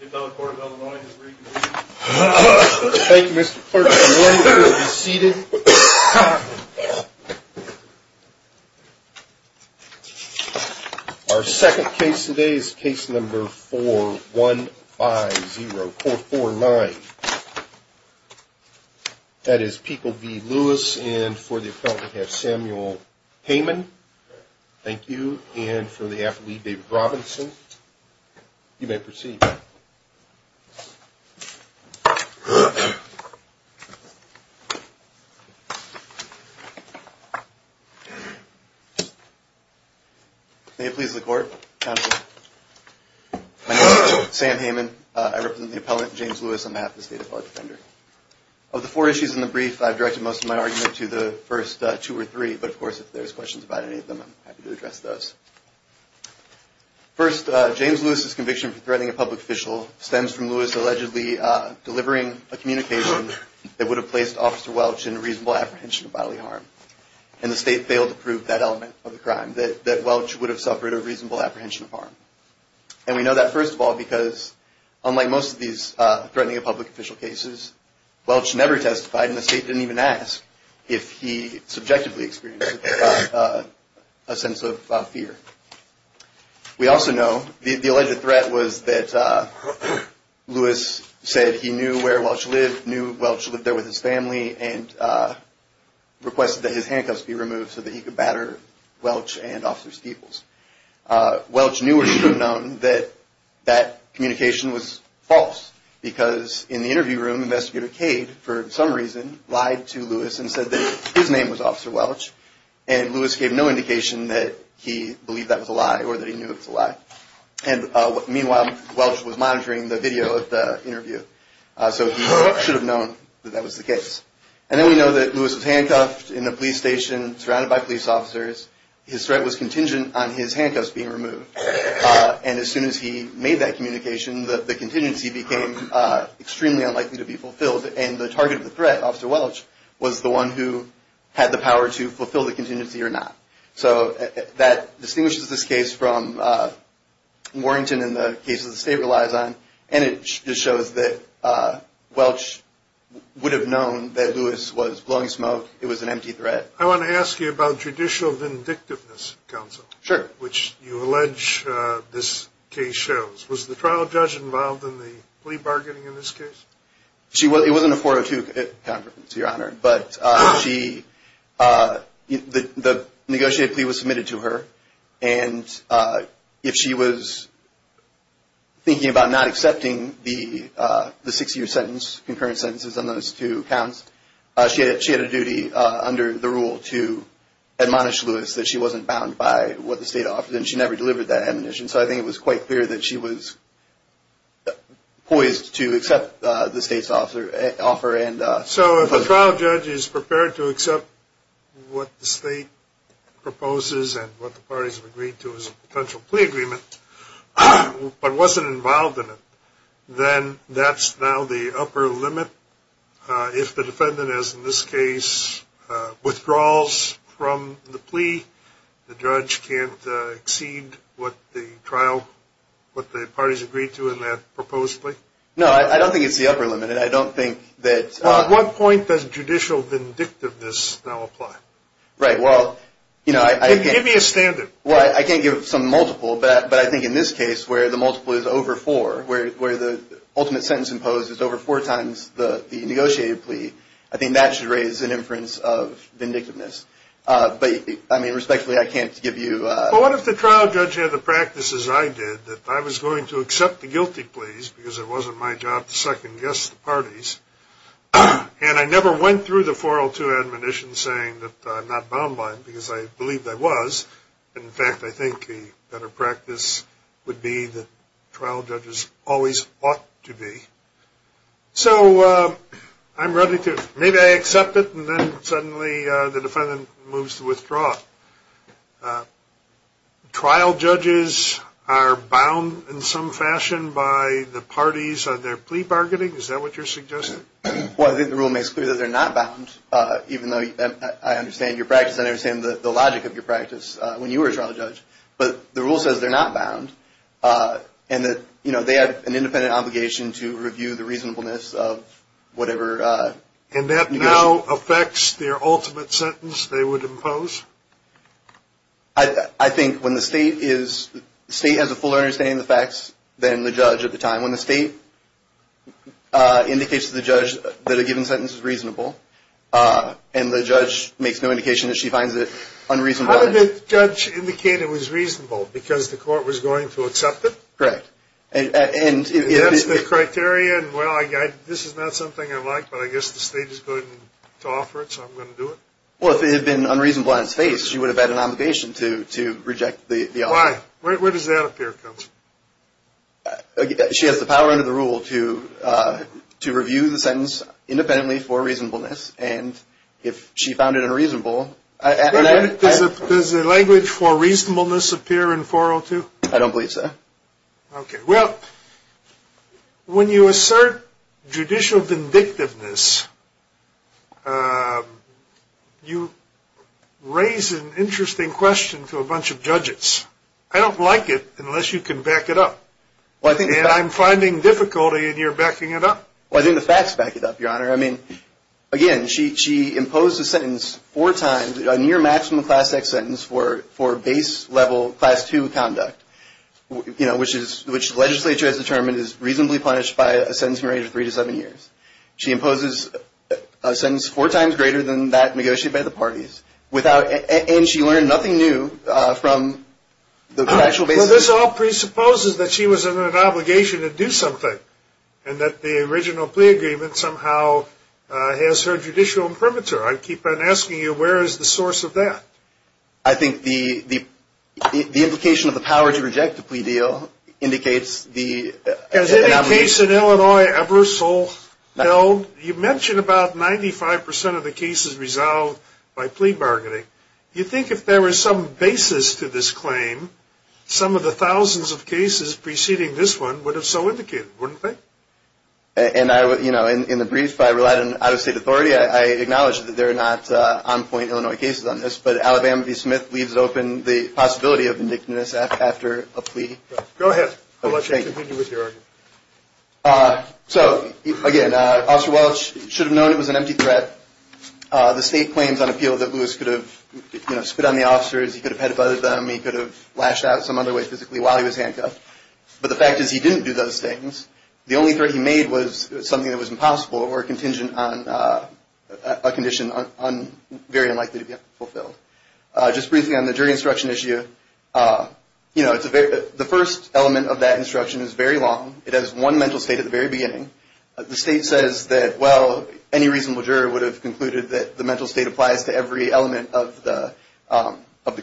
The appellate court of Illinois has reconvened. Thank you Mr. Clerk. You may be seated. Our second case today is case number 4150449. That is Peekle v. Lewis and for the appellate we have Samuel Heyman. Thank you. And for the appellate, David Robinson. You may proceed. May it please the court, counsel. My name is Sam Heyman. I represent the appellant, James Lewis, on behalf of the State of Illinois Defender. Of the four issues in the brief, I've directed most of my argument to the first two or three, but of course if there's questions about any of them, I'm happy to address those. First, James Lewis's conviction for threatening a public official stems from Lewis allegedly delivering a communication that would have placed Officer Welch in reasonable apprehension of bodily harm. And the state failed to prove that element of the crime, that Welch would have suffered a reasonable apprehension of harm. And we know that, first of all, because unlike most of these threatening a public official cases, Welch never testified and the state didn't even ask if he subjectively experienced a sense of fear. We also know the alleged threat was that Lewis said he knew where Welch lived, knew Welch lived there with his family, and requested that his handcuffs be removed so that he could batter Welch and Officer Steeples. Welch knew or should have known that that communication was false because in the interview room, Investigator Cade, for some reason, lied to Lewis and said that his name was Officer Welch. And Lewis gave no indication that he believed that was a lie or that he knew it was a lie. And meanwhile, Welch was monitoring the video of the interview. So he should have known that that was the case. And then we know that Lewis was handcuffed in a police station, surrounded by police officers. His threat was contingent on his handcuffs being removed. And as soon as he made that communication, the contingency became extremely unlikely to be fulfilled. And the target of the threat, Officer Welch, was the one who had the power to fulfill the contingency or not. So that distinguishes this case from Warrington and the cases the state relies on. And it just shows that Welch would have known that Lewis was blowing smoke. It was an empty threat. I want to ask you about judicial vindictiveness, Counsel. Sure. Which you allege this case shows. Was the trial judge involved in the plea bargaining in this case? It wasn't a 402, to your honor. But the negotiated plea was submitted to her. And if she was thinking about not accepting the six-year sentence, concurrent sentences on those two counts, she had a duty under the rule to admonish Lewis that she wasn't bound by what the state offered. And she never delivered that admonition. So I think it was quite clear that she was poised to accept the state's offer. So if a trial judge is prepared to accept what the state proposes and what the parties have agreed to as a potential plea agreement, but wasn't involved in it, then that's now the upper limit. If the defendant, as in this case, withdraws from the plea, the judge can't exceed what the parties agreed to in that proposed plea? No, I don't think it's the upper limit. At what point does judicial vindictiveness now apply? Give me a standard. I can't give some multiple, but I think in this case where the multiple is over four, where the ultimate sentence imposed is over four times the negotiated plea, I think that should raise an inference of vindictiveness. But, I mean, respectfully, I can't give you a- Well, what if the trial judge had the practice, as I did, that I was going to accept the guilty pleas because it wasn't my job to second-guess the parties, and I never went through the 402 admonition saying that I'm not bound by it because I believed I was, and, in fact, I think a better practice would be that trial judges always ought to be. So I'm ready to, maybe I accept it, and then suddenly the defendant moves to withdraw. Trial judges are bound in some fashion by the parties on their plea bargaining? Is that what you're suggesting? Well, I think the rule makes clear that they're not bound, even though I understand your practice and I understand the logic of your practice when you were a trial judge. But the rule says they're not bound and that, you know, they have an independent obligation to review the reasonableness of whatever- And that now affects their ultimate sentence they would impose? I think when the state is-the state has a fuller understanding of the facts than the judge at the time. When the state indicates to the judge that a given sentence is reasonable and the judge makes no indication that she finds it unreasonable- How did the judge indicate it was reasonable? Because the court was going to accept it? Correct. And that's the criteria, and, well, this is not something I like, but I guess the state is going to offer it, so I'm going to do it? Well, if it had been unreasonable on its face, she would have had an obligation to reject the offer. Why? Where does that appear to come from? She has the power under the rule to review the sentence independently for reasonableness, and if she found it unreasonable- Does the language for reasonableness appear in 402? I don't believe so. Okay. Well, when you assert judicial vindictiveness, you raise an interesting question to a bunch of judges. I don't like it unless you can back it up, and I'm finding difficulty in your backing it up. Well, I think the facts back it up, Your Honor. I mean, again, she imposed a sentence four times, a near-maximum Class X sentence, for base-level Class II conduct, you know, which the legislature has determined is reasonably punished by a sentencing rate of three to seven years. She imposes a sentence four times greater than that negotiated by the parties, and she learned nothing new from the actual- Well, this all presupposes that she was under an obligation to do something, and that the original plea agreement somehow has her judicial imprimatur. I keep on asking you, where is the source of that? I think the implication of the power to reject the plea deal indicates the- Case in Illinois, Ebersole, you mentioned about 95% of the cases resolved by plea bargaining. You think if there was some basis to this claim, some of the thousands of cases preceding this one would have so indicated, wouldn't they? And, you know, in the brief, I relied on out-of-state authority. I acknowledge that there are not on-point Illinois cases on this, but Alabama v. Smith leaves open the possibility of vindictiveness after a plea. Go ahead. I'll let you continue with your argument. So, again, Officer Welch should have known it was an empty threat. The state claims on appeal that Lewis could have, you know, spit on the officers. He could have peddled them. He could have lashed out some other way physically while he was handcuffed. But the fact is he didn't do those things. The only threat he made was something that was impossible or contingent on a condition very unlikely to be fulfilled. Just briefly on the jury instruction issue, you know, the first element of that instruction is very long. It has one mental state at the very beginning. The state says that, well, any reasonable juror would have concluded that the mental state applies to every element of the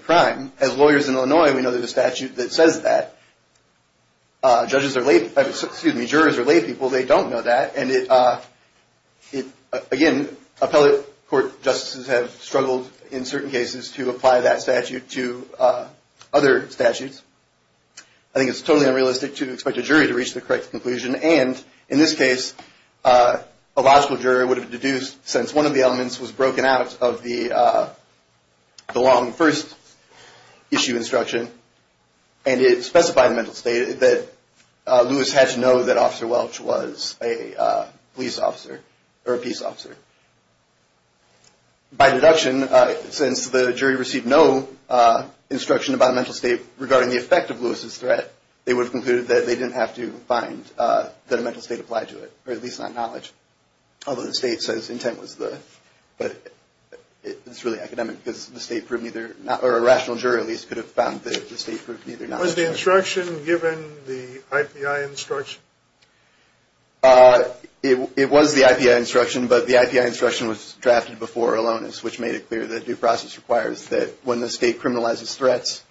crime. As lawyers in Illinois, we know there's a statute that says that. Judges are – excuse me, jurors are laypeople. They don't know that. Again, appellate court justices have struggled in certain cases to apply that statute to other statutes. I think it's totally unrealistic to expect a jury to reach the correct conclusion. And in this case, a logical juror would have deduced, since one of the elements was broken out of the long first issue instruction, and it specified mental state, that Lewis had to know that Officer Welch was a police officer or a peace officer. By deduction, since the jury received no instruction about mental state regarding the effect of Lewis's threat, they would have concluded that they didn't have to find that a mental state applied to it, or at least not knowledge, although the state says intent was the – it's really academic because the state proved neither – or a rational juror, at least, could have found that the state proved neither knowledge. Was the instruction given the IPI instruction? It was the IPI instruction, but the IPI instruction was drafted before Alonis, which made it clear that due process requires that when the state criminalizes threats,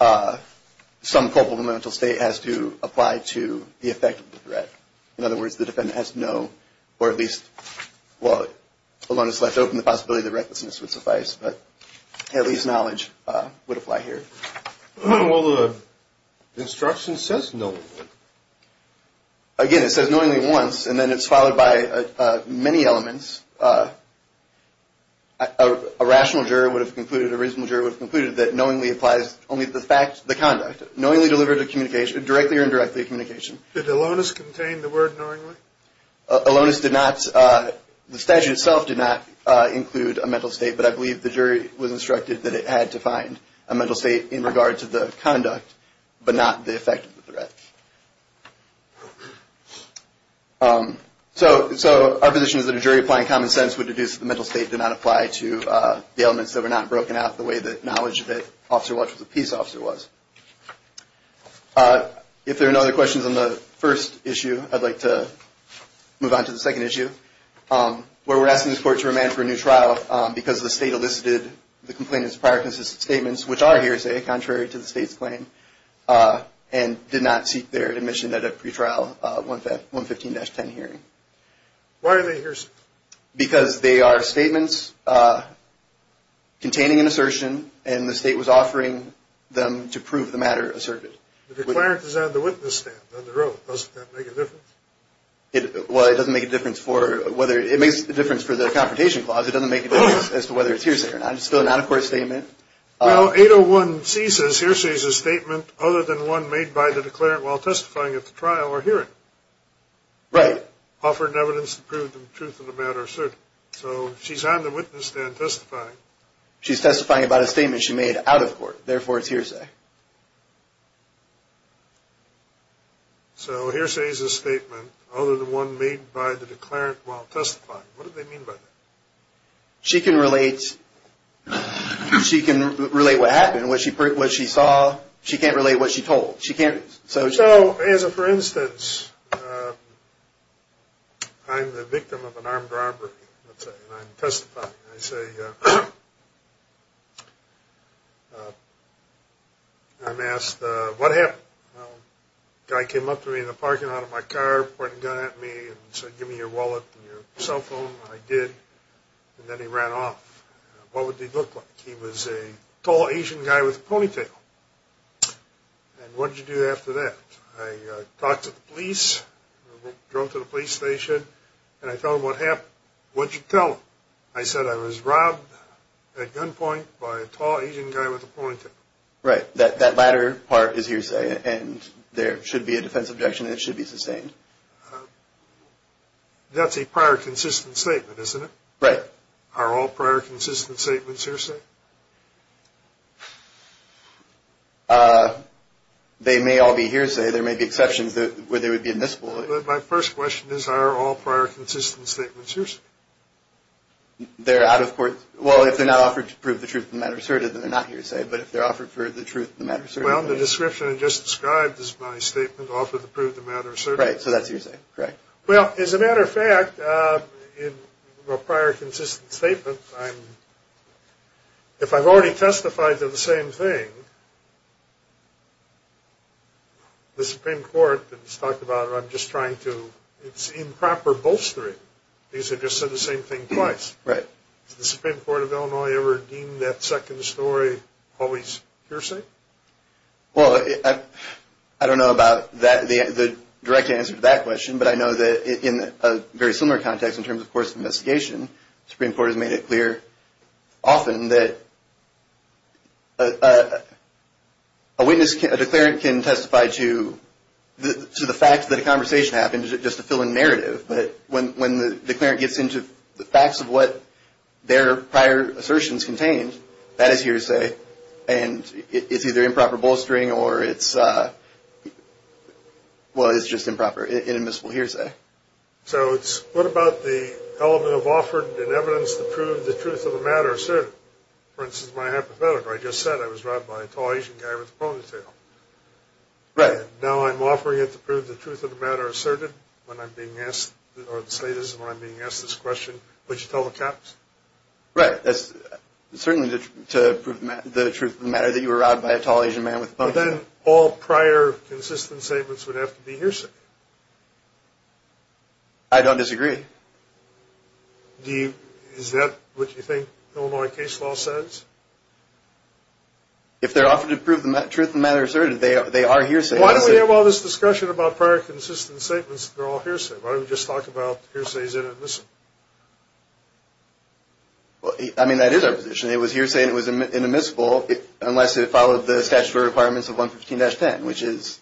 some culpable mental state has to apply to the effect of the threat. In other words, the defendant has to know, or at least – well, Alonis left open the possibility that recklessness would suffice, but at least knowledge would apply here. Well, the instruction says knowingly. Again, it says knowingly once, and then it's followed by many elements. A rational juror would have concluded, a reasonable juror would have concluded, that knowingly applies only to the fact – the conduct. Knowingly delivered a communication – directly or indirectly a communication. Did Alonis contain the word knowingly? Alonis did not – the statute itself did not include a mental state, but I believe the jury was instructed that it had to find a mental state in regard to the conduct, but not the effect of the threat. So our position is that a jury applying common sense would deduce that the mental state did not apply to the elements that were not broken out the way that knowledge that Officer Walsh was a peace officer was. If there are no other questions on the first issue, I'd like to move on to the second issue, where we're asking this court to remand for a new trial because the state elicited the complainant's prior consistent statements, which are hearsay, contrary to the state's claim, and did not seek their admission at a pretrial 115-10 hearing. Why are they hearsay? Because they are statements containing an assertion, and the state was offering them to prove the matter asserted. The declarant is on the witness stand, on the road. Doesn't that make a difference? Well, it doesn't make a difference for whether – it makes a difference for the confrontation clause. It doesn't make a difference as to whether it's hearsay or not. It's still a non-accord statement. Well, 801C says hearsay is a statement other than one made by the declarant while testifying at the trial or hearing. Right. Offered evidence to prove the truth of the matter asserted. So she's on the witness stand testifying. She's testifying about a statement she made out of court. Therefore, it's hearsay. So hearsay is a statement other than one made by the declarant while testifying. What do they mean by that? She can relate what happened, what she saw. She can't relate what she told. So, as a for instance, I'm the victim of an armed robbery, let's say, and I'm testifying. I say – I'm asked, what happened? Guy came up to me in the parking lot of my car, pointed a gun at me and said, give me your wallet and your cell phone. I did. And then he ran off. What would he look like? He was a tall Asian guy with a ponytail. And what did you do after that? I talked to the police, drove to the police station, and I told them what happened. What did you tell them? I said I was robbed at gunpoint by a tall Asian guy with a ponytail. Right. That latter part is hearsay and there should be a defense objection and it should be sustained. That's a prior consistent statement, isn't it? Right. Are all prior consistent statements hearsay? They may all be hearsay. There may be exceptions where they would be admissible. My first question is, are all prior consistent statements hearsay? They're out of court – well, if they're not offered to prove the truth of the matter asserted, then they're not hearsay. But if they're offered for the truth of the matter asserted – Well, the description I just described is my statement offered to prove the matter asserted. Right, so that's hearsay. Correct. Well, as a matter of fact, in a prior consistent statement, if I've already testified to the same thing, the Supreme Court has talked about it. I'm just trying to – it's improper bolstering. These have just said the same thing twice. Right. Has the Supreme Court of Illinois ever deemed that second story always hearsay? Well, I don't know about the direct answer to that question, but I know that in a very similar context in terms of course of investigation, the Supreme Court has made it clear often that a witness – a declarant can testify to the fact that a conversation happened just to fill in narrative, but when the declarant gets into the facts of what their prior assertions contained, that is hearsay, and it's either improper bolstering or it's – well, it's just improper, inadmissible hearsay. So it's – what about the element of offered in evidence to prove the truth of the matter asserted? For instance, my hypothetical. I just said I was robbed by a tall Asian guy with a ponytail. Right. Now I'm offering it to prove the truth of the matter asserted when I'm being asked – or the state is when I'm being asked this question, would you tell the cops? Right. That's certainly to prove the truth of the matter that you were robbed by a tall Asian man with a ponytail. But then all prior consistent statements would have to be hearsay. I don't disagree. Do you – is that what you think Illinois case law says? If they're offered to prove the truth of the matter asserted, they are hearsay. Why don't we have all this discussion about prior consistent statements that are all hearsay? Why don't we just talk about hearsays that are admissible? I mean, that is our position. It was hearsay and it was inadmissible unless it followed the statutory requirements of 115-10, which is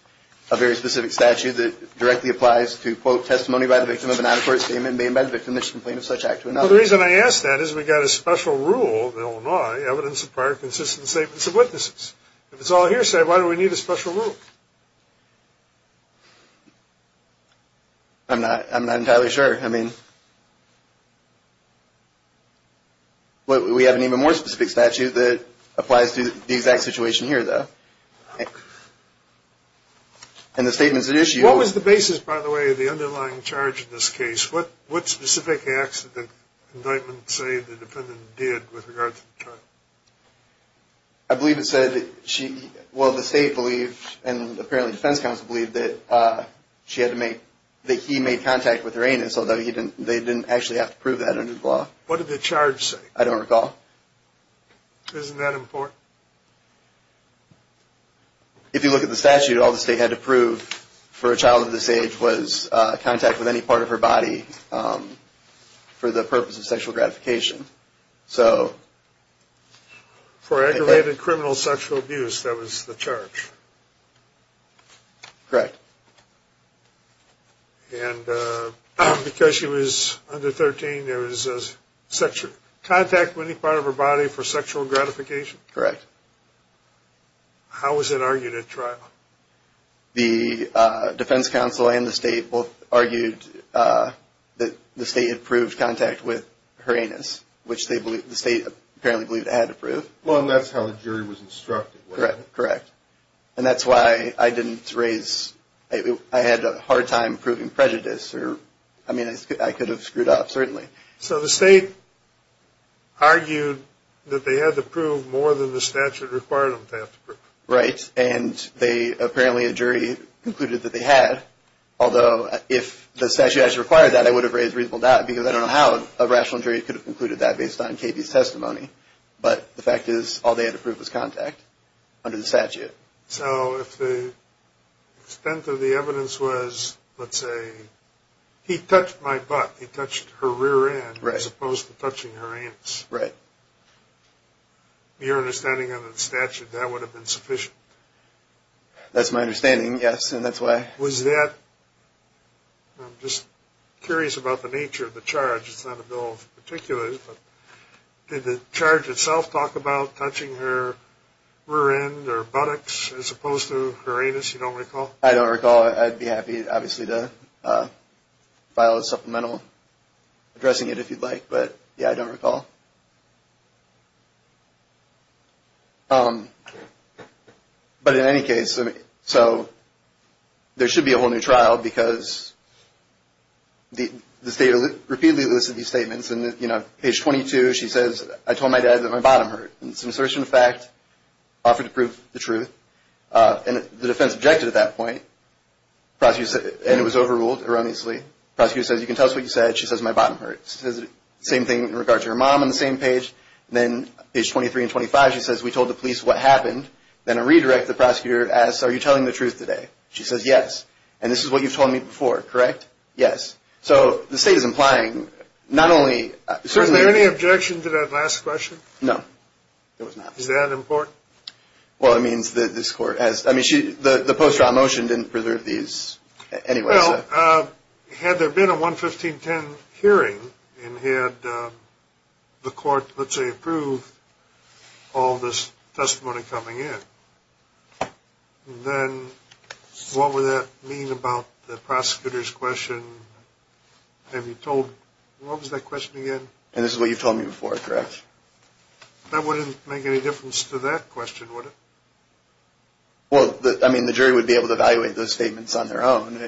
a very specific statute that directly applies to, quote, testimony by the victim of an unaccurate statement being made by the victim of a miscompliance of such act. Well, the reason I ask that is we've got a special rule in Illinois, evidence of prior consistent statements of witnesses. If it's all hearsay, why do we need a special rule? I'm not entirely sure. I mean, we have an even more specific statute that applies to the exact situation here, though. And the statements at issue – What was the basis, by the way, of the underlying charge in this case? What specific acts did the indictment say the defendant did with regard to the charge? I believe it said she – well, the state believed, and apparently the defense counsel believed, that she had to make – that he made contact with her anus, although they didn't actually have to prove that under the law. What did the charge say? I don't recall. Isn't that important? If you look at the statute, all the state had to prove for a child of this age was contact with any part of her body for the purpose of sexual gratification. So – For aggravated criminal sexual abuse, that was the charge? Correct. And because she was under 13, there was contact with any part of her body for sexual gratification? Correct. How was it argued at trial? The defense counsel and the state both argued that the state had proved contact with her anus, which the state apparently believed it had to prove. Well, and that's how the jury was instructed, wasn't it? Correct. And that's why I didn't raise – I had a hard time proving prejudice. I mean, I could have screwed up, certainly. So the state argued that they had to prove more than the statute required them to have to prove. Right. And they – apparently a jury concluded that they had, although if the statute actually required that, I would have raised reasonable doubt, because I don't know how a rational jury could have concluded that based on KB's testimony. But the fact is, all they had to prove was contact under the statute. So if the extent of the evidence was, let's say, he touched my butt, he touched her rear end, as opposed to touching her anus. Right. Your understanding of the statute, that would have been sufficient. That's my understanding, yes, and that's why. Was that – I'm just curious about the nature of the charge. It's not a bill of particulars, but did the charge itself talk about touching her rear end or buttocks, as opposed to her anus, you don't recall? I don't recall. I'd be happy, obviously, to file a supplemental addressing it if you'd like. But, yeah, I don't recall. But in any case, so there should be a whole new trial, because the state repeatedly elicits these statements. And, you know, page 22, she says, I told my dad that my bottom hurt. It's an assertion of fact, offered to prove the truth. And the defense objected at that point. And it was overruled, erroneously. The prosecutor says, you can tell us what you said. She says, my bottom hurt. She says the same thing in regard to her mom on the same page. Then page 23 and 25, she says, we told the police what happened. Then a redirect, the prosecutor asks, are you telling the truth today? She says, yes. And this is what you've told me before, correct? Yes. So the state is implying not only – So is there any objection to that last question? No, there was not. Is that important? Well, it means that this court has – I mean, the post-trial motion didn't preserve these anyway. Well, had there been a 11510 hearing and had the court, let's say, approved all this testimony coming in, then what would that mean about the prosecutor's question? Have you told – what was that question again? And this is what you've told me before, correct? That wouldn't make any difference to that question, would it? Well, I mean, the jury would be able to evaluate those statements on their own.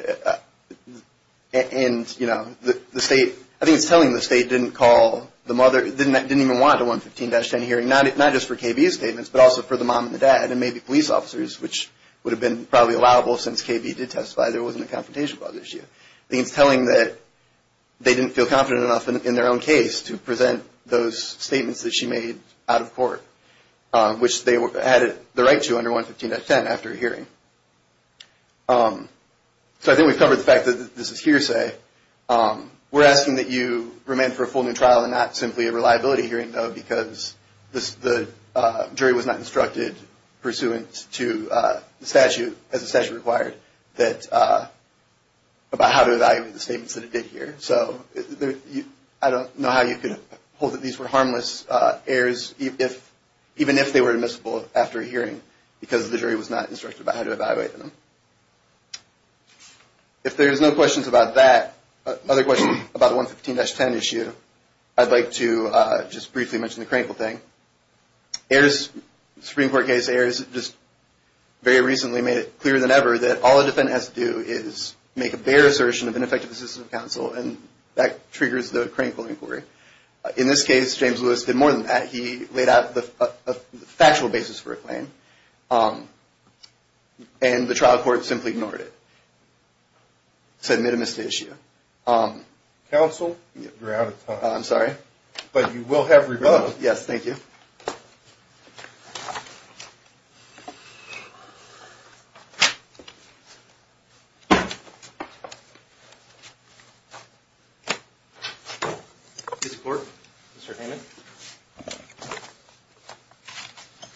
And, you know, the state – I think it's telling the state didn't call the mother – didn't even want a 11510 hearing, not just for KB's statements, but also for the mom and the dad and maybe police officers, which would have been probably allowable since KB did testify. There wasn't a confrontation clause issue. I think it's telling that they didn't feel confident enough in their own case to present those statements that she made out of court, which they had the right to under 11510 after a hearing. So I think we've covered the fact that this is hearsay. We're asking that you remain for a full new trial and not simply a reliability hearing, though, because the jury was not instructed pursuant to the statute, as the statute required, about how to evaluate the statements that it did hear. So I don't know how you could hold that these were harmless errors, even if they were admissible after a hearing, because the jury was not instructed about how to evaluate them. If there's no questions about that, other questions about the 11510 issue, I'd like to just briefly mention the crankle thing. Supreme Court case errors just very recently made it clearer than ever that all a defendant has to do is make a bare assertion of ineffective assistance of counsel, and that triggers the crankle inquiry. In this case, James Lewis did more than that. He laid out the factual basis for a claim, and the trial court simply ignored it. It's a minimist issue. Counsel, you're out of time. I'm sorry? But you will have rebuttal. Yes, thank you.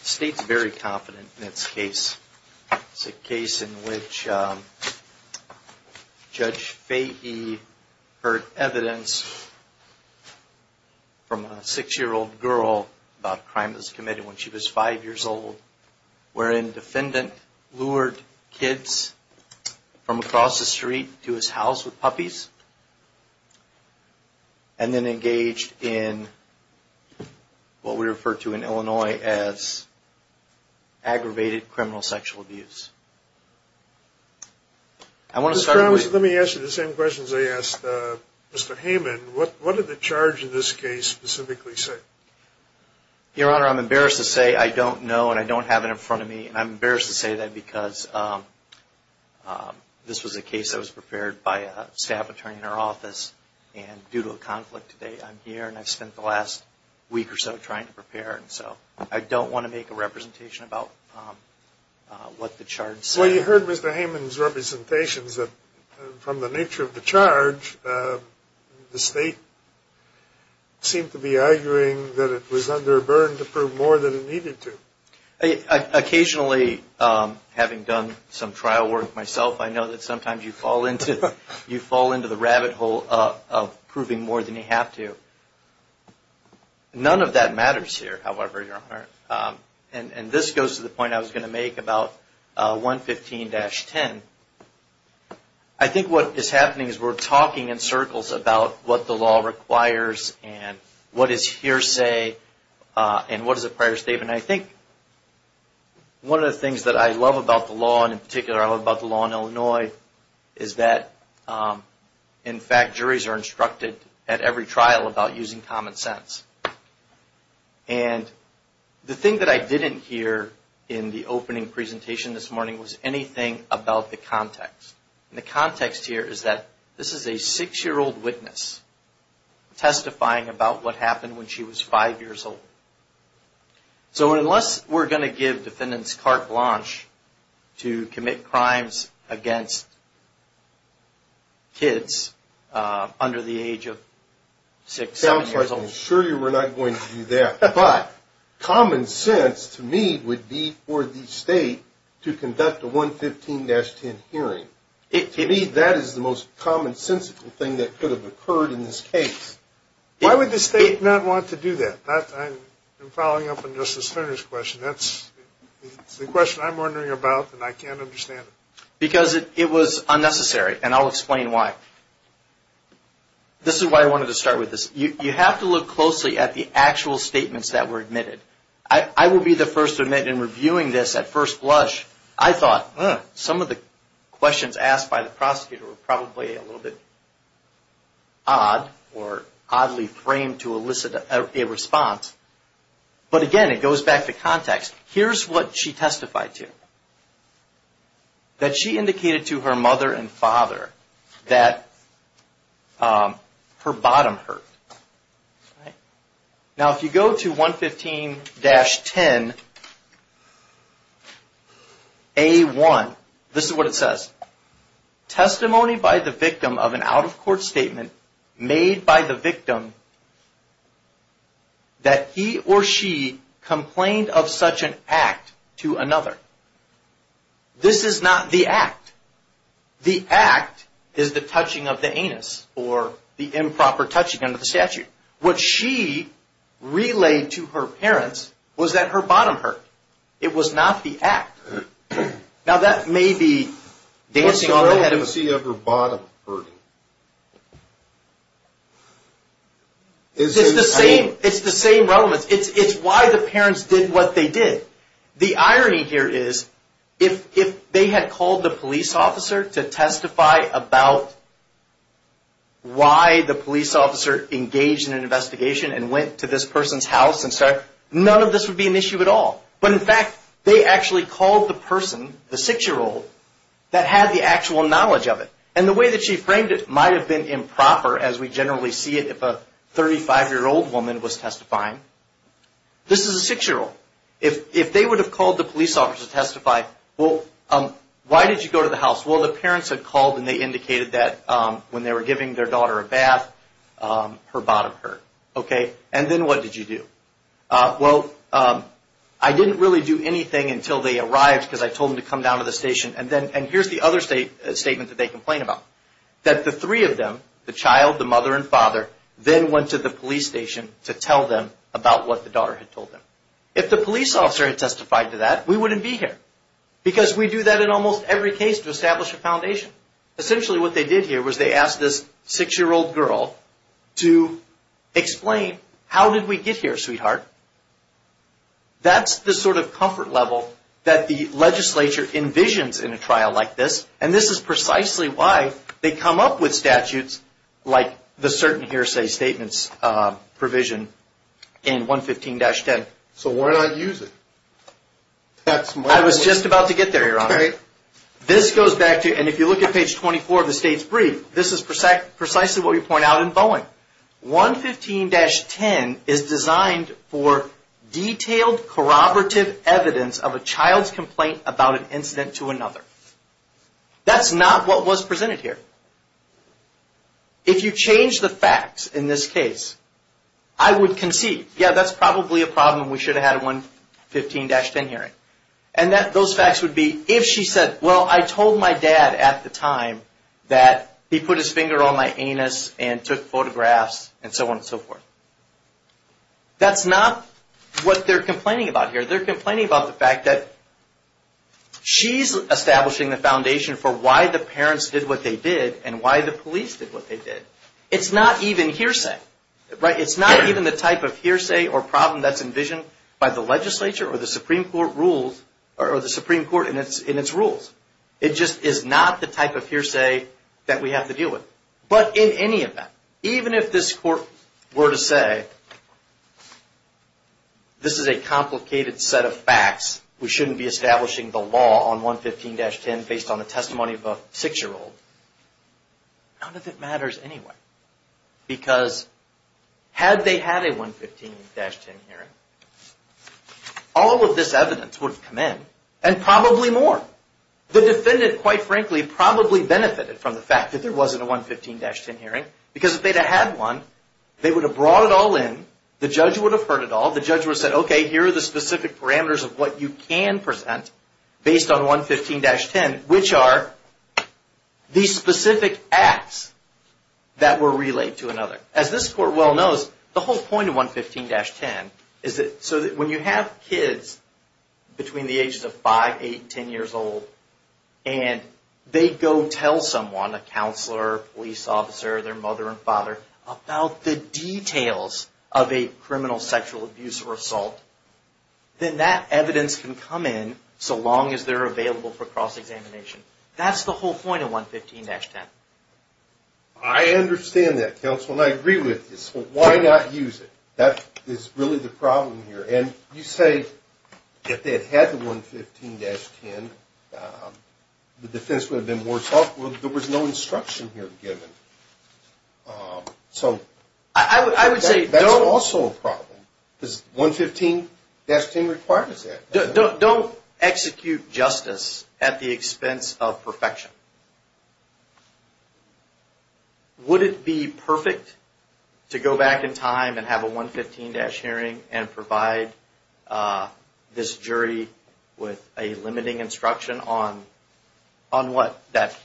State's very confident in its case. It's a case in which Judge Fahey heard evidence from a six-year-old girl about crimes committed when she was five years old, wherein the defendant lured kids from across the street to his house with puppies, and then engaged in what we refer to in Illinois as aggravated criminal sexual abuse. Let me ask you the same questions I asked Mr. Hayman. What did the charge in this case specifically say? Your Honor, I'm embarrassed to say I don't know, and I don't have it in front of me, and I'm embarrassed to say that because this was a case that was prepared by a staff attorney in our office, and due to a conflict today, I'm here, and I've spent the last week or so trying to prepare, and so I don't want to make a representation about what the charge said. So you heard Mr. Hayman's representations from the nature of the charge. The State seemed to be arguing that it was under a burden to prove more than it needed to. Occasionally, having done some trial work myself, I know that sometimes you fall into the rabbit hole of proving more than you have to. None of that matters here, however, Your Honor. This goes to the point I was going to make about 115-10. I think what is happening is we're talking in circles about what the law requires, and what is hearsay, and what is a prior statement. I think one of the things that I love about the law, and in particular I love about the law in Illinois, is that, in fact, juries are instructed at every trial about using common sense. And the thing that I didn't hear in the opening presentation this morning was anything about the context. And the context here is that this is a six-year-old witness testifying about what happened when she was five years old. So unless we're going to give Defendant's carte blanche to commit crimes against kids under the age of six, seven years old. I'm sure you were not going to do that. But common sense, to me, would be for the state to conduct a 115-10 hearing. To me, that is the most commonsensical thing that could have occurred in this case. Why would the state not want to do that? I'm following up on Justice Flinner's question. That's the question I'm wondering about, and I can't understand it. Because it was unnecessary, and I'll explain why. This is why I wanted to start with this. You have to look closely at the actual statements that were admitted. I will be the first to admit in reviewing this at first blush, I thought, some of the questions asked by the prosecutor were probably a little bit odd or oddly framed to elicit a response. But again, it goes back to context. Here's what she testified to, that she indicated to her mother and father that her bottom hurt. Now, if you go to 115-10A1, this is what it says. Testimony by the victim of an out-of-court statement made by the victim that he or she complained of such an act to another. This is not the act. The act is the touching of the anus, or the improper touching under the statute. What she relayed to her parents was that her bottom hurt. It was not the act. Now, that may be dancing on the head of... What's the relevancy of her bottom hurting? It's the same relevance. It's why the parents did what they did. The irony here is, if they had called the police officer to testify about why the police officer engaged in an investigation and went to this person's house and said, none of this would be an issue at all. But in fact, they actually called the person, the six-year-old, that had the actual knowledge of it. And the way that she framed it might have been improper, as we generally see it if a 35-year-old woman was testifying. This is a six-year-old. If they would have called the police officer to testify, well, why did you go to the house? Well, the parents had called and they indicated that when they were giving their daughter a bath, her bottom hurt. And then what did you do? Well, I didn't really do anything until they arrived, because I told them to come down to the station. And here's the other statement that they complain about, that the three of them, the child, the mother, and father, then went to the police station to tell them about what the daughter had told them. If the police officer had testified to that, we wouldn't be here, because we do that in almost every case to establish a foundation. Essentially, what they did here was they asked this six-year-old girl to explain, how did we get here, sweetheart? That's the sort of comfort level that the legislature envisions in a trial like this. And this is precisely why they come up with statutes like the certain hearsay statements provision in 115-10. So why not use it? I was just about to get there, Your Honor. All right. This goes back to, and if you look at page 24 of the state's brief, this is precisely what we point out in Bowen. 115-10 is designed for detailed corroborative evidence of a child's complaint about an incident to another. That's not what was presented here. If you change the facts in this case, I would concede, yeah, that's probably a problem. We should have had a 115-10 hearing. And those facts would be, if she said, well, I told my dad at the time that he put his finger on my anus and took photographs and so on and so forth. That's not what they're complaining about here. They're complaining about the fact that she's establishing the foundation for why the parents did what they did and why the police did what they did. It's not even hearsay. It's not even the type of hearsay or problem that's envisioned by the legislature or the Supreme Court in its rules. It just is not the type of hearsay that we have to deal with. But in any event, even if this Court were to say, this is a complicated set of facts. We shouldn't be establishing the law on 115-10 based on the testimony of a six-year-old. None of it matters anyway. Because had they had a 115-10 hearing, all of this evidence would have come in and probably more. The defendant, quite frankly, probably benefited from the fact that there wasn't a 115-10 hearing. Because if they'd have had one, they would have brought it all in. The judge would have heard it all. The judge would have said, okay, here are the specific parameters of what you can present based on 115-10. And which are the specific acts that were relayed to another. As this Court well knows, the whole point of 115-10 is that when you have kids between the ages of 5, 8, 10 years old, and they go tell someone, a counselor, police officer, their mother and father, about the details of a criminal sexual abuse or assault, then that evidence can come in so long as they're available for cross-examination. That's the whole point of 115-10. I understand that, counsel, and I agree with you. So why not use it? That is really the problem here. And you say if they had had the 115-10, the defense would have been more thoughtful. There was no instruction here given. That's also a problem. 115-10 requires that. Don't execute justice at the expense of perfection. Would it be perfect to go back in time and have a 115-10 hearing and provide this jury with a limiting instruction on what? That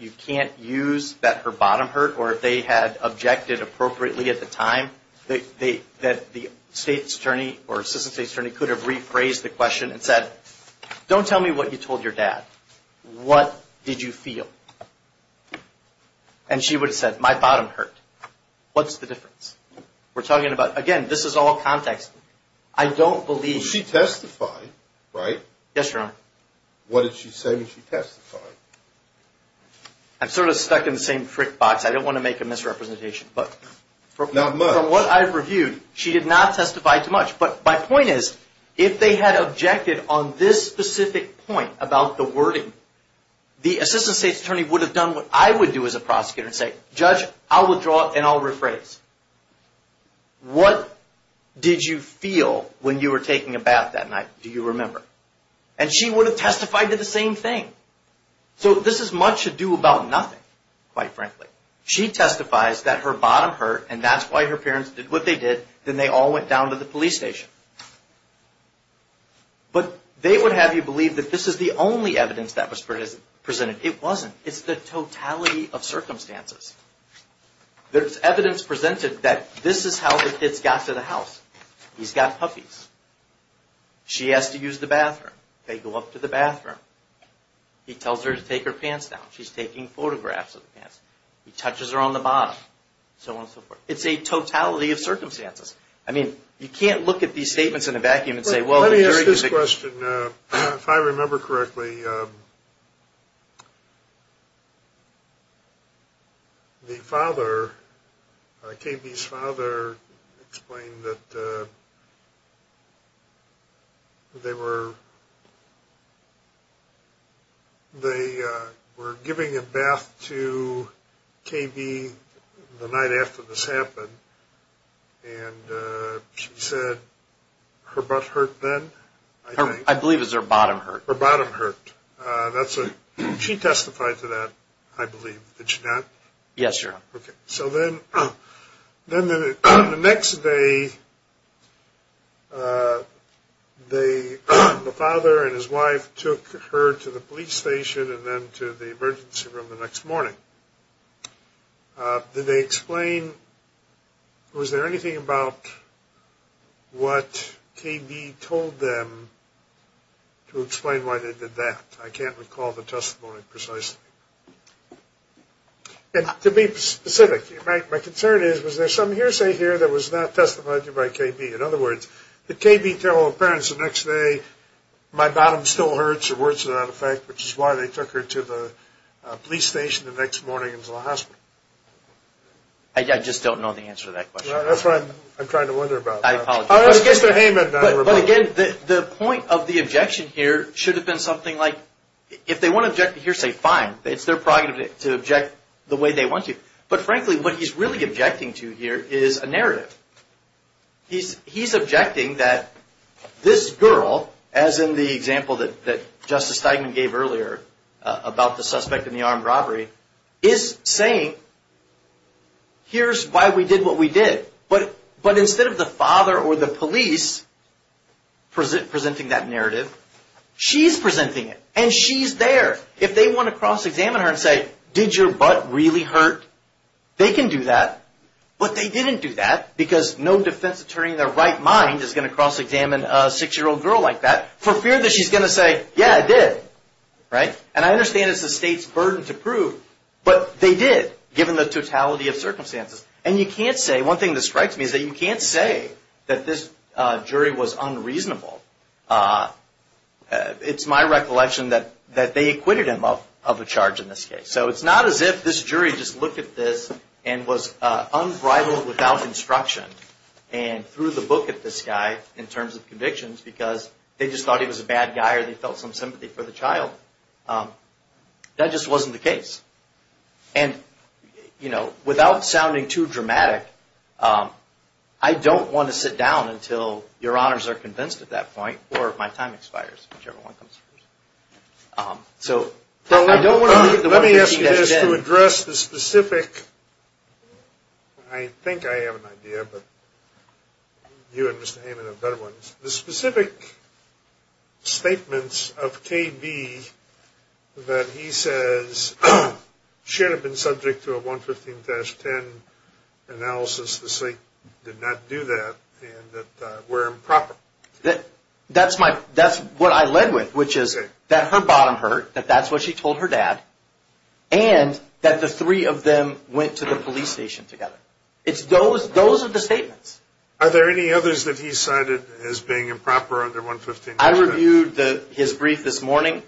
you can't use that her bottom hurt, or if they had objected appropriately at the time, that the state's attorney or assistant state's attorney could have rephrased the question and said, don't tell me what you told your dad. What did you feel? And she would have said, my bottom hurt. What's the difference? We're talking about, again, this is all context. I don't believe. She testified, right? Yes, Your Honor. What did she say when she testified? I'm sort of stuck in the same trick box. I don't want to make a misrepresentation. Not much. From what I've reviewed, she did not testify too much. But my point is, if they had objected on this specific point about the wording, the assistant state's attorney would have done what I would do as a prosecutor and say, judge, I'll withdraw and I'll rephrase. What did you feel when you were taking a bath that night? Do you remember? And she would have testified to the same thing. So this is much ado about nothing, quite frankly. She testifies that her bottom hurt and that's why her parents did what they did. Then they all went down to the police station. But they would have you believe that this is the only evidence that was presented. It wasn't. It's the totality of circumstances. There's evidence presented that this is how the kids got to the house. He's got puppies. She has to use the bathroom. They go up to the bathroom. He tells her to take her pants down. She's taking photographs of the pants. He touches her on the bottom. So on and so forth. It's a totality of circumstances. I mean, you can't look at these statements in a vacuum and say, well, Let me ask this question. If I remember correctly, the father, KB's father, explained that they were giving a bath to KB the night after this happened. And she said her butt hurt then? I believe it was her bottom hurt. Her bottom hurt. She testified to that, I believe. Did she not? Yes, Your Honor. Okay. So then the next day, the father and his wife took her to the police station and then to the emergency room the next morning. Did they explain? Was there anything about what KB told them to explain why they did that? I can't recall the testimony precisely. And to be specific, my concern is, was there some hearsay here that was not testified to by KB? In other words, did KB tell her parents the next day, my bottom still hurts or words to that effect, which is why they took her to the police station the next morning and to the hospital? I just don't know the answer to that question. That's what I'm trying to wonder about. I apologize. Mr. Heyman. But, again, the point of the objection here should have been something like, if they want to object to hearsay, fine. It's their prerogative to object the way they want to. But, frankly, what he's really objecting to here is a narrative. He's objecting that this girl, as in the example that Justice Steigman gave earlier about the suspect in the armed robbery, is saying, here's why we did what we did. But instead of the father or the police presenting that narrative, she's presenting it. And she's there. If they want to cross-examine her and say, did your butt really hurt? They can do that. But they didn't do that because no defense attorney in their right mind is going to cross-examine a 6-year-old girl like that for fear that she's going to say, yeah, I did. And I understand it's the state's burden to prove, but they did, given the totality of circumstances. And you can't say, one thing that strikes me is that you can't say that this jury was unreasonable. It's my recollection that they acquitted him of a charge in this case. So it's not as if this jury just looked at this and was unbridled without instruction and threw the book at this guy in terms of convictions because they just thought he was a bad guy or they felt some sympathy for the child. That just wasn't the case. And, you know, without sounding too dramatic, I don't want to sit down until your honors are convinced at that point or my time expires, whichever one comes first. So I don't want to leave the 115-10... Let me ask you this to address the specific... I think I have an idea, but you and Mr. Heyman have better ones. The specific statements of KB that he says should have been subject to a 115-10 analysis, the state did not do that and that were improper. That's what I led with, which is that her bottom hurt, that that's what she told her dad, and that the three of them went to the police station together. Those are the statements. Are there any others that he cited as being improper under 115-10? I reviewed his brief this morning.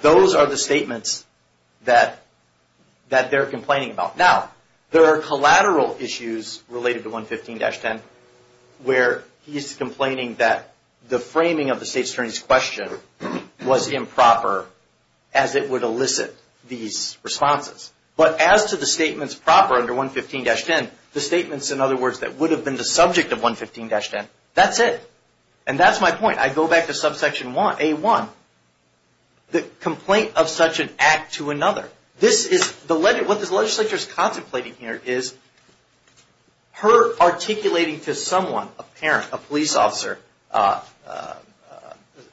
Those are the statements that they're complaining about. Now, there are collateral issues related to 115-10, where he's complaining that the framing of the state's attorney's question was improper, as it would elicit these responses. But as to the statements proper under 115-10, the statements, in other words, that would have been the subject of 115-10, that's it. And that's my point. I go back to subsection A1, the complaint of such an act to another. What this legislature is contemplating here is her articulating to someone, a parent, a police officer,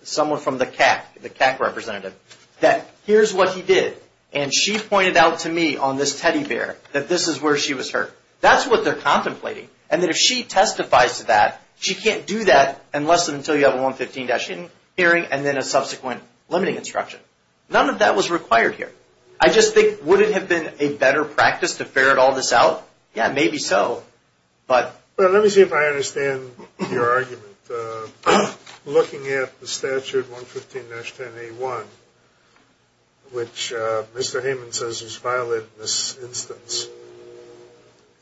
someone from the CAC, the CAC representative, that here's what he did, and she pointed out to me on this teddy bear that this is where she was hurt. That's what they're contemplating, and that if she testifies to that, she can't do that unless and until you have a 115-10 hearing and then a subsequent limiting instruction. None of that was required here. I just think, would it have been a better practice to ferret all this out? Yeah, maybe so, but. Well, let me see if I understand your argument. Looking at the statute 115-10A1, which Mr. Hayman says is violated in this instance,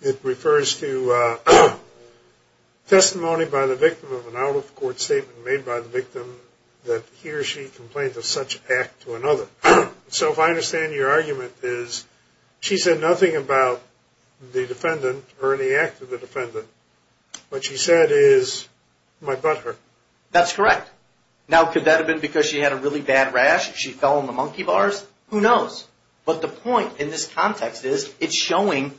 it refers to testimony by the victim of an out-of-court statement made by the victim that he or she complained of such an act to another. So if I understand your argument is she said nothing about the defendant or any act of the defendant. What she said is, my butt hurt. That's correct. Now, could that have been because she had a really bad rash? She fell on the monkey bars? Who knows, but the point in this context is it's showing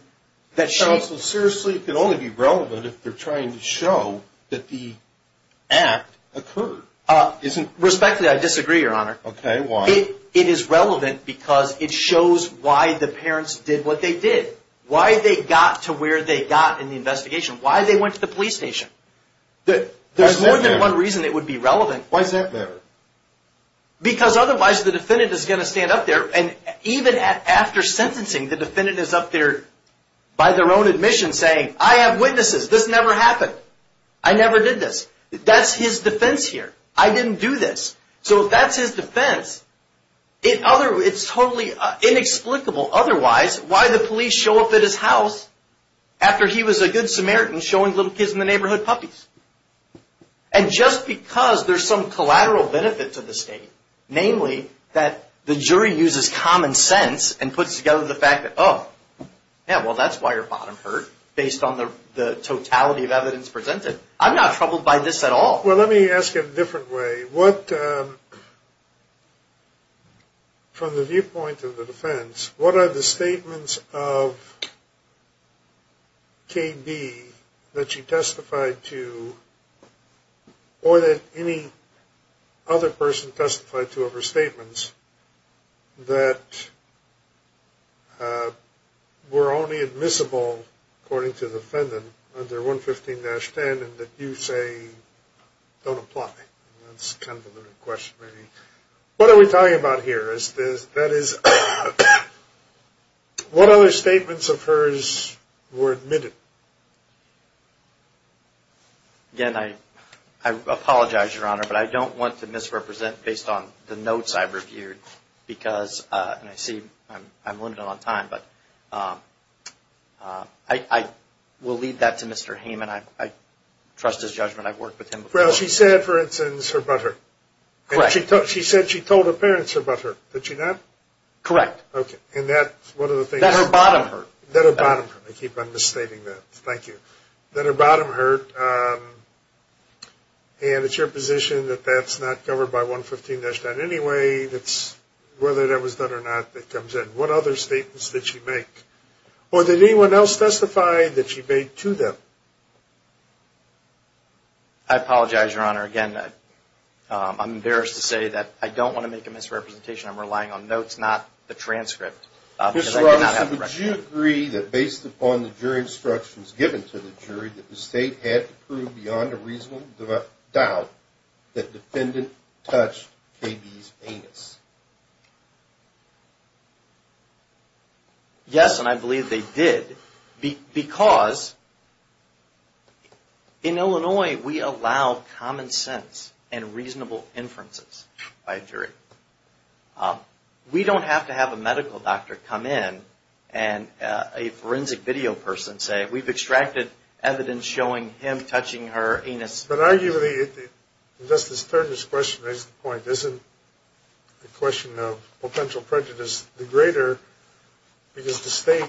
that she... Counsel, seriously, it can only be relevant if they're trying to show that the act occurred. Respectfully, I disagree, Your Honor. Okay, why? It is relevant because it shows why the parents did what they did. Why they got to where they got in the investigation. Why they went to the police station. There's more than one reason it would be relevant. Why is that there? Because otherwise the defendant is going to stand up there, and even after sentencing the defendant is up there by their own admission saying, I have witnesses. This never happened. I never did this. That's his defense here. I didn't do this. So if that's his defense, it's totally inexplicable otherwise why the police show up at his house after he was a good Samaritan showing little kids in the neighborhood puppies. And just because there's some collateral benefit to the state, namely that the jury uses common sense and puts together the fact that, oh, yeah, well, that's why your bottom hurt based on the totality of evidence presented. I'm not troubled by this at all. Well, let me ask it a different way. From the viewpoint of the defense, what are the statements of KB that she testified to or that any other person testified to of her statements that were only admissible according to the defendant under 115-10 and that you say don't apply? That's kind of a limited question, maybe. What are we talking about here? That is, what other statements of hers were admitted? Again, I apologize, Your Honor, but I don't want to misrepresent based on the notes I've reviewed because, and I see I'm limited on time, but I will leave that to Mr. Hayman. I trust his judgment. I've worked with him before. Well, she said, for instance, her butthurt. Correct. She said she told her parents her butthurt. Did she not? Correct. Okay. And that's one of the things. That her bottom hurt. That her bottom hurt. I keep on misstating that. Thank you. That her bottom hurt. And it's your position that that's not covered by 115-10 anyway. It's whether that was done or not that comes in. What other statements did she make? Or did anyone else testify that she made to them? I apologize, Your Honor. Again, I'm embarrassed to say that I don't want to make a misrepresentation. I'm relying on notes, not the transcript. Mr. Rogers, would you agree that based upon the jury instructions given to the jury, that the state had to prove beyond a reasonable doubt that the defendant touched KB's anus? Yes, and I believe they did. Because in Illinois we allow common sense and reasonable inferences by a jury. We don't have to have a medical doctor come in and a forensic video person say, we've extracted evidence showing him touching her anus. But arguably, Justice Turner's question makes the point, isn't the question of potential prejudice the greater because the state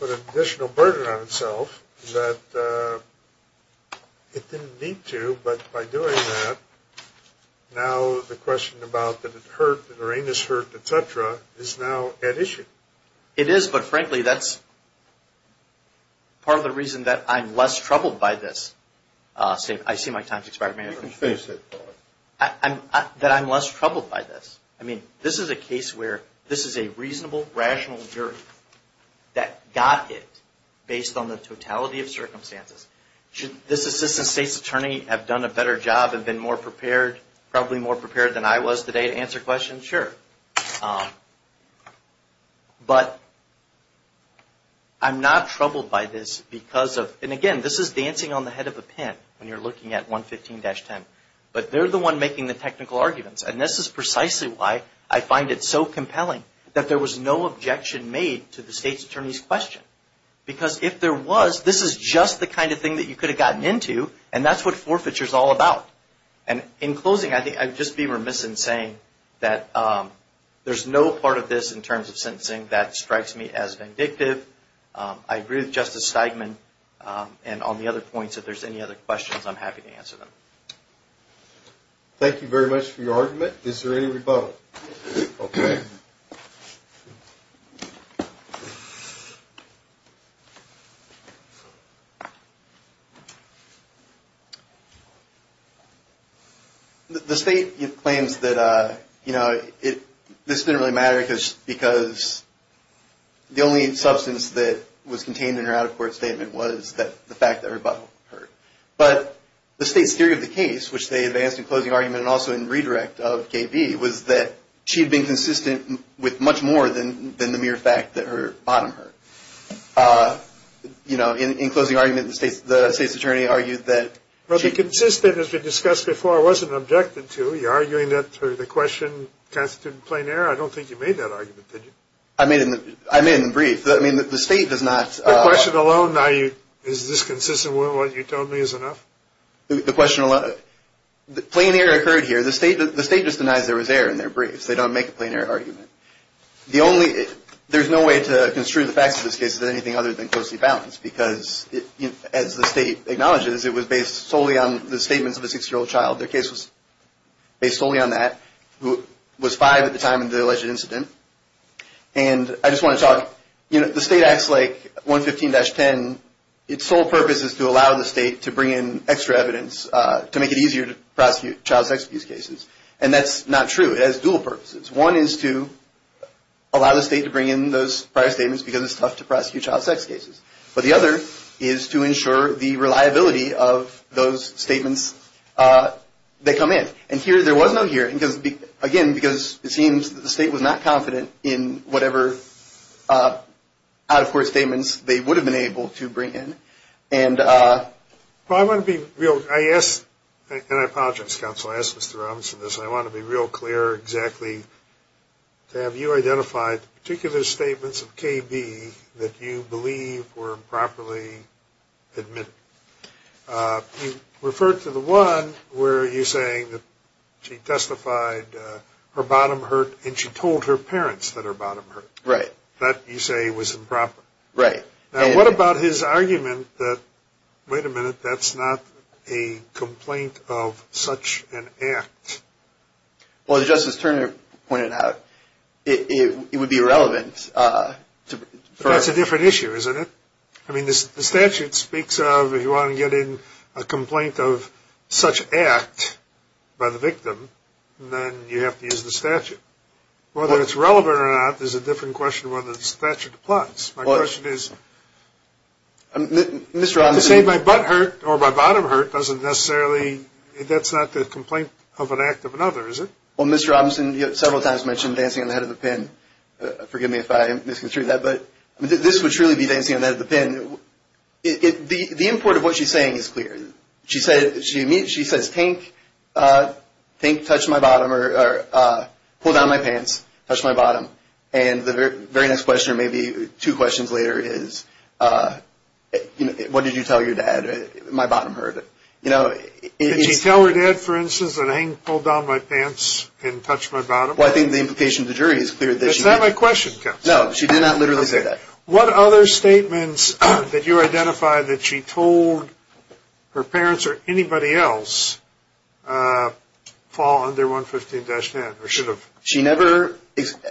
put an additional burden on itself that it didn't need to. But by doing that, now the question about did it hurt, did her anus hurt, et cetera, is now at issue. It is. But frankly, that's part of the reason that I'm less troubled by this. I see my time's expired. May I finish? That I'm less troubled by this. I mean, this is a case where this is a reasonable, rational jury that got it based on the totality of circumstances. Should this Assistant State's Attorney have done a better job and been more prepared, probably more prepared than I was today to answer questions? Sure. But I'm not troubled by this because of, and again, this is dancing on the head of a pin when you're looking at 115-10. But they're the one making the technical arguments. And this is precisely why I find it so compelling that there was no objection made to the State's Attorney's question. Because if there was, this is just the kind of thing that you could have gotten into, and that's what forfeiture is all about. And in closing, I'd just be remiss in saying that there's no part of this in terms of sentencing that strikes me as vindictive. I agree with Justice Steigman. And on the other points, if there's any other questions, I'm happy to answer them. Thank you very much for your argument. Is there any rebuttal? Okay. The State claims that, you know, this didn't really matter because the only substance that was contained in her out-of-court statement was the fact that rebuttal occurred. But the State's theory of the case, which they advanced in closing argument and also in redirect of KB, was that she had been consistent with much more than the mere fact that her bottom hurt. You know, in closing argument, the State's Attorney argued that she – Well, the consistent, as we discussed before, wasn't objected to. You're arguing that through the question constituted in plain error. I don't think you made that argument, did you? I made it in the brief. I mean, the State does not – The question alone, now, is this consistent with what you told me is enough? The question – plain error occurred here. The State just denies there was error in their briefs. They don't make a plain error argument. The only – there's no way to construe the facts of this case as anything other than closely balanced because, as the State acknowledges, it was based solely on the statements of a 6-year-old child. Their case was based solely on that, who was 5 at the time of the alleged incident. And I just want to talk – you know, the State acts like 115-10. Its sole purpose is to allow the State to bring in extra evidence to make it easier to prosecute child sex abuse cases. And that's not true. It has dual purposes. One is to allow the State to bring in those prior statements because it's tough to prosecute child sex cases. But the other is to ensure the reliability of those statements that come in. And here there was no hearing because, again, because it seems that the State was not confident in whatever out-of-court statements they would have been able to bring in. And – Well, I want to be real – I asked – and I apologize, Counsel. I asked Mr. Robinson this. And I want to be real clear exactly to have you identify the particular statements of KB that you believe were improperly admitted. You referred to the one where you're saying that she testified her bottom hurt and she told her parents that her bottom hurt. Right. That you say was improper. Right. Now, what about his argument that, wait a minute, that's not a complaint of such an act? Well, as Justice Turner pointed out, it would be irrelevant to – That's a different issue, isn't it? I mean, the statute speaks of if you want to get in a complaint of such act by the victim, then you have to use the statute. Whether it's relevant or not is a different question of whether the statute applies. My question is – Mr. Robinson – To say my butt hurt or my bottom hurt doesn't necessarily – that's not the complaint of an act of another, is it? Well, Mr. Robinson, you several times mentioned dancing on the head of a pin. Forgive me if I misconstrued that, but this would truly be dancing on the head of a pin. The import of what she's saying is clear. She says, Tank touched my bottom or pulled down my pants, touched my bottom. And the very next question or maybe two questions later is, what did you tell your dad? My bottom hurt. Did she tell her dad, for instance, that Hank pulled down my pants and touched my bottom? Well, I think the implication of the jury is clear that she – Is that my question, counsel? No, she did not literally say that. What other statements that you identified that she told her parents or anybody else fall under 115-10 or should have? She never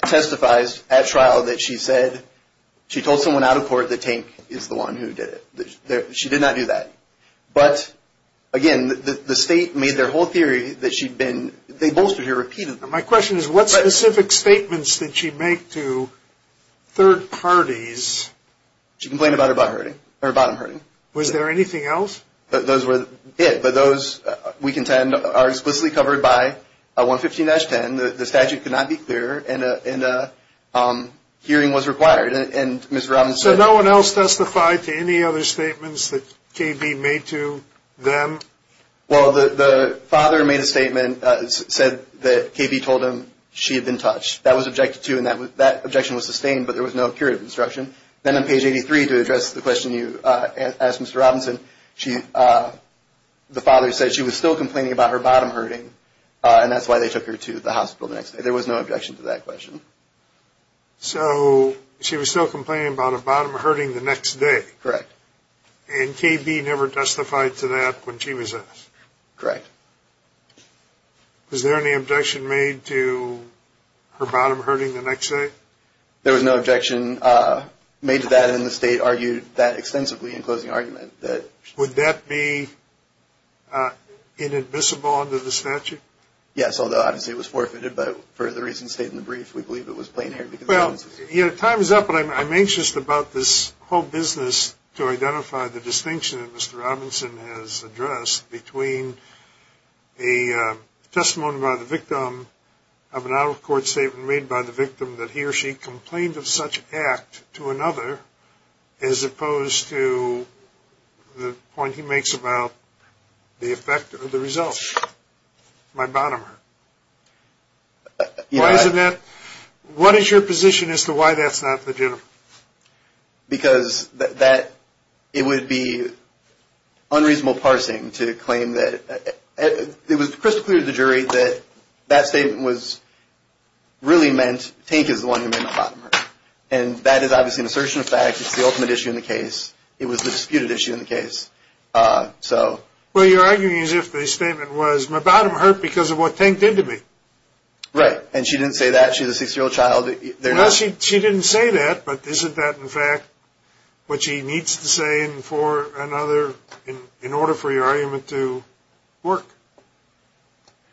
testifies at trial that she said – she told someone out of court that Tank is the one who did it. She did not do that. But, again, the state made their whole theory that she'd been – they bolstered her, repeated them. My question is, what specific statements did she make to third parties? She complained about her bottom hurting. Was there anything else? Those were it. But those, we contend, are explicitly covered by 115-10. The statute could not be cleared, and a hearing was required. And Mr. Robbins said – So no one else testified to any other statements that KB made to them? Well, the father made a statement, said that KB told him she had been touched. That was objected to, and that objection was sustained, but there was no period of instruction. Then on page 83, to address the question you asked Mr. Robinson, the father said she was still complaining about her bottom hurting, and that's why they took her to the hospital the next day. There was no objection to that question. So she was still complaining about a bottom hurting the next day. Correct. And KB never testified to that when she was asked? Correct. Was there any objection made to her bottom hurting the next day? There was no objection made to that, and the state argued that extensively in closing argument. Would that be inadmissible under the statute? Yes, although obviously it was forfeited. But for the reason stated in the brief, we believe it was plain air. Time is up, but I'm anxious about this whole business to identify the distinction that Mr. Robinson has addressed between a testimony by the victim of an out-of-court statement made by the victim that he or she complained of such act to another as opposed to the point he makes about the effect of the result. My bottom hurt. Why isn't that? What is your position as to why that's not legitimate? Because it would be unreasonable parsing to claim that. It was crystal clear to the jury that that statement really meant Tank is the one who made my bottom hurt, and that is obviously an assertion of fact. It's the ultimate issue in the case. It was the disputed issue in the case. Well, you're arguing as if the statement was, my bottom hurt because of what Tank did to me. Right. And she didn't say that. She's a six-year-old child. She didn't say that, but isn't that in fact what she needs to say in order for your argument to work?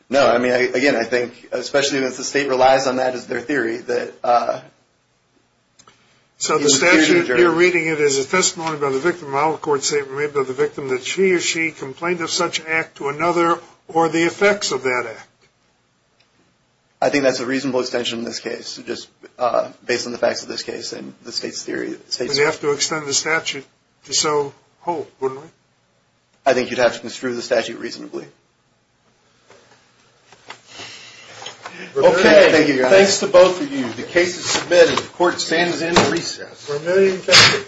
No. I mean, again, I think especially as the state relies on that as their theory. So the statute, you're reading it as a testimony by the victim. I'll, of course, say it was made by the victim that she or she complained of such act to another or the effects of that act. I think that's a reasonable extension in this case, just based on the facts of this case and the state's theory. We'd have to extend the statute to so hold, wouldn't we? I think you'd have to construe the statute reasonably. Okay. Thank you, Your Honor. The case is submitted. The court stands in recess. Remaining cases. Thank you.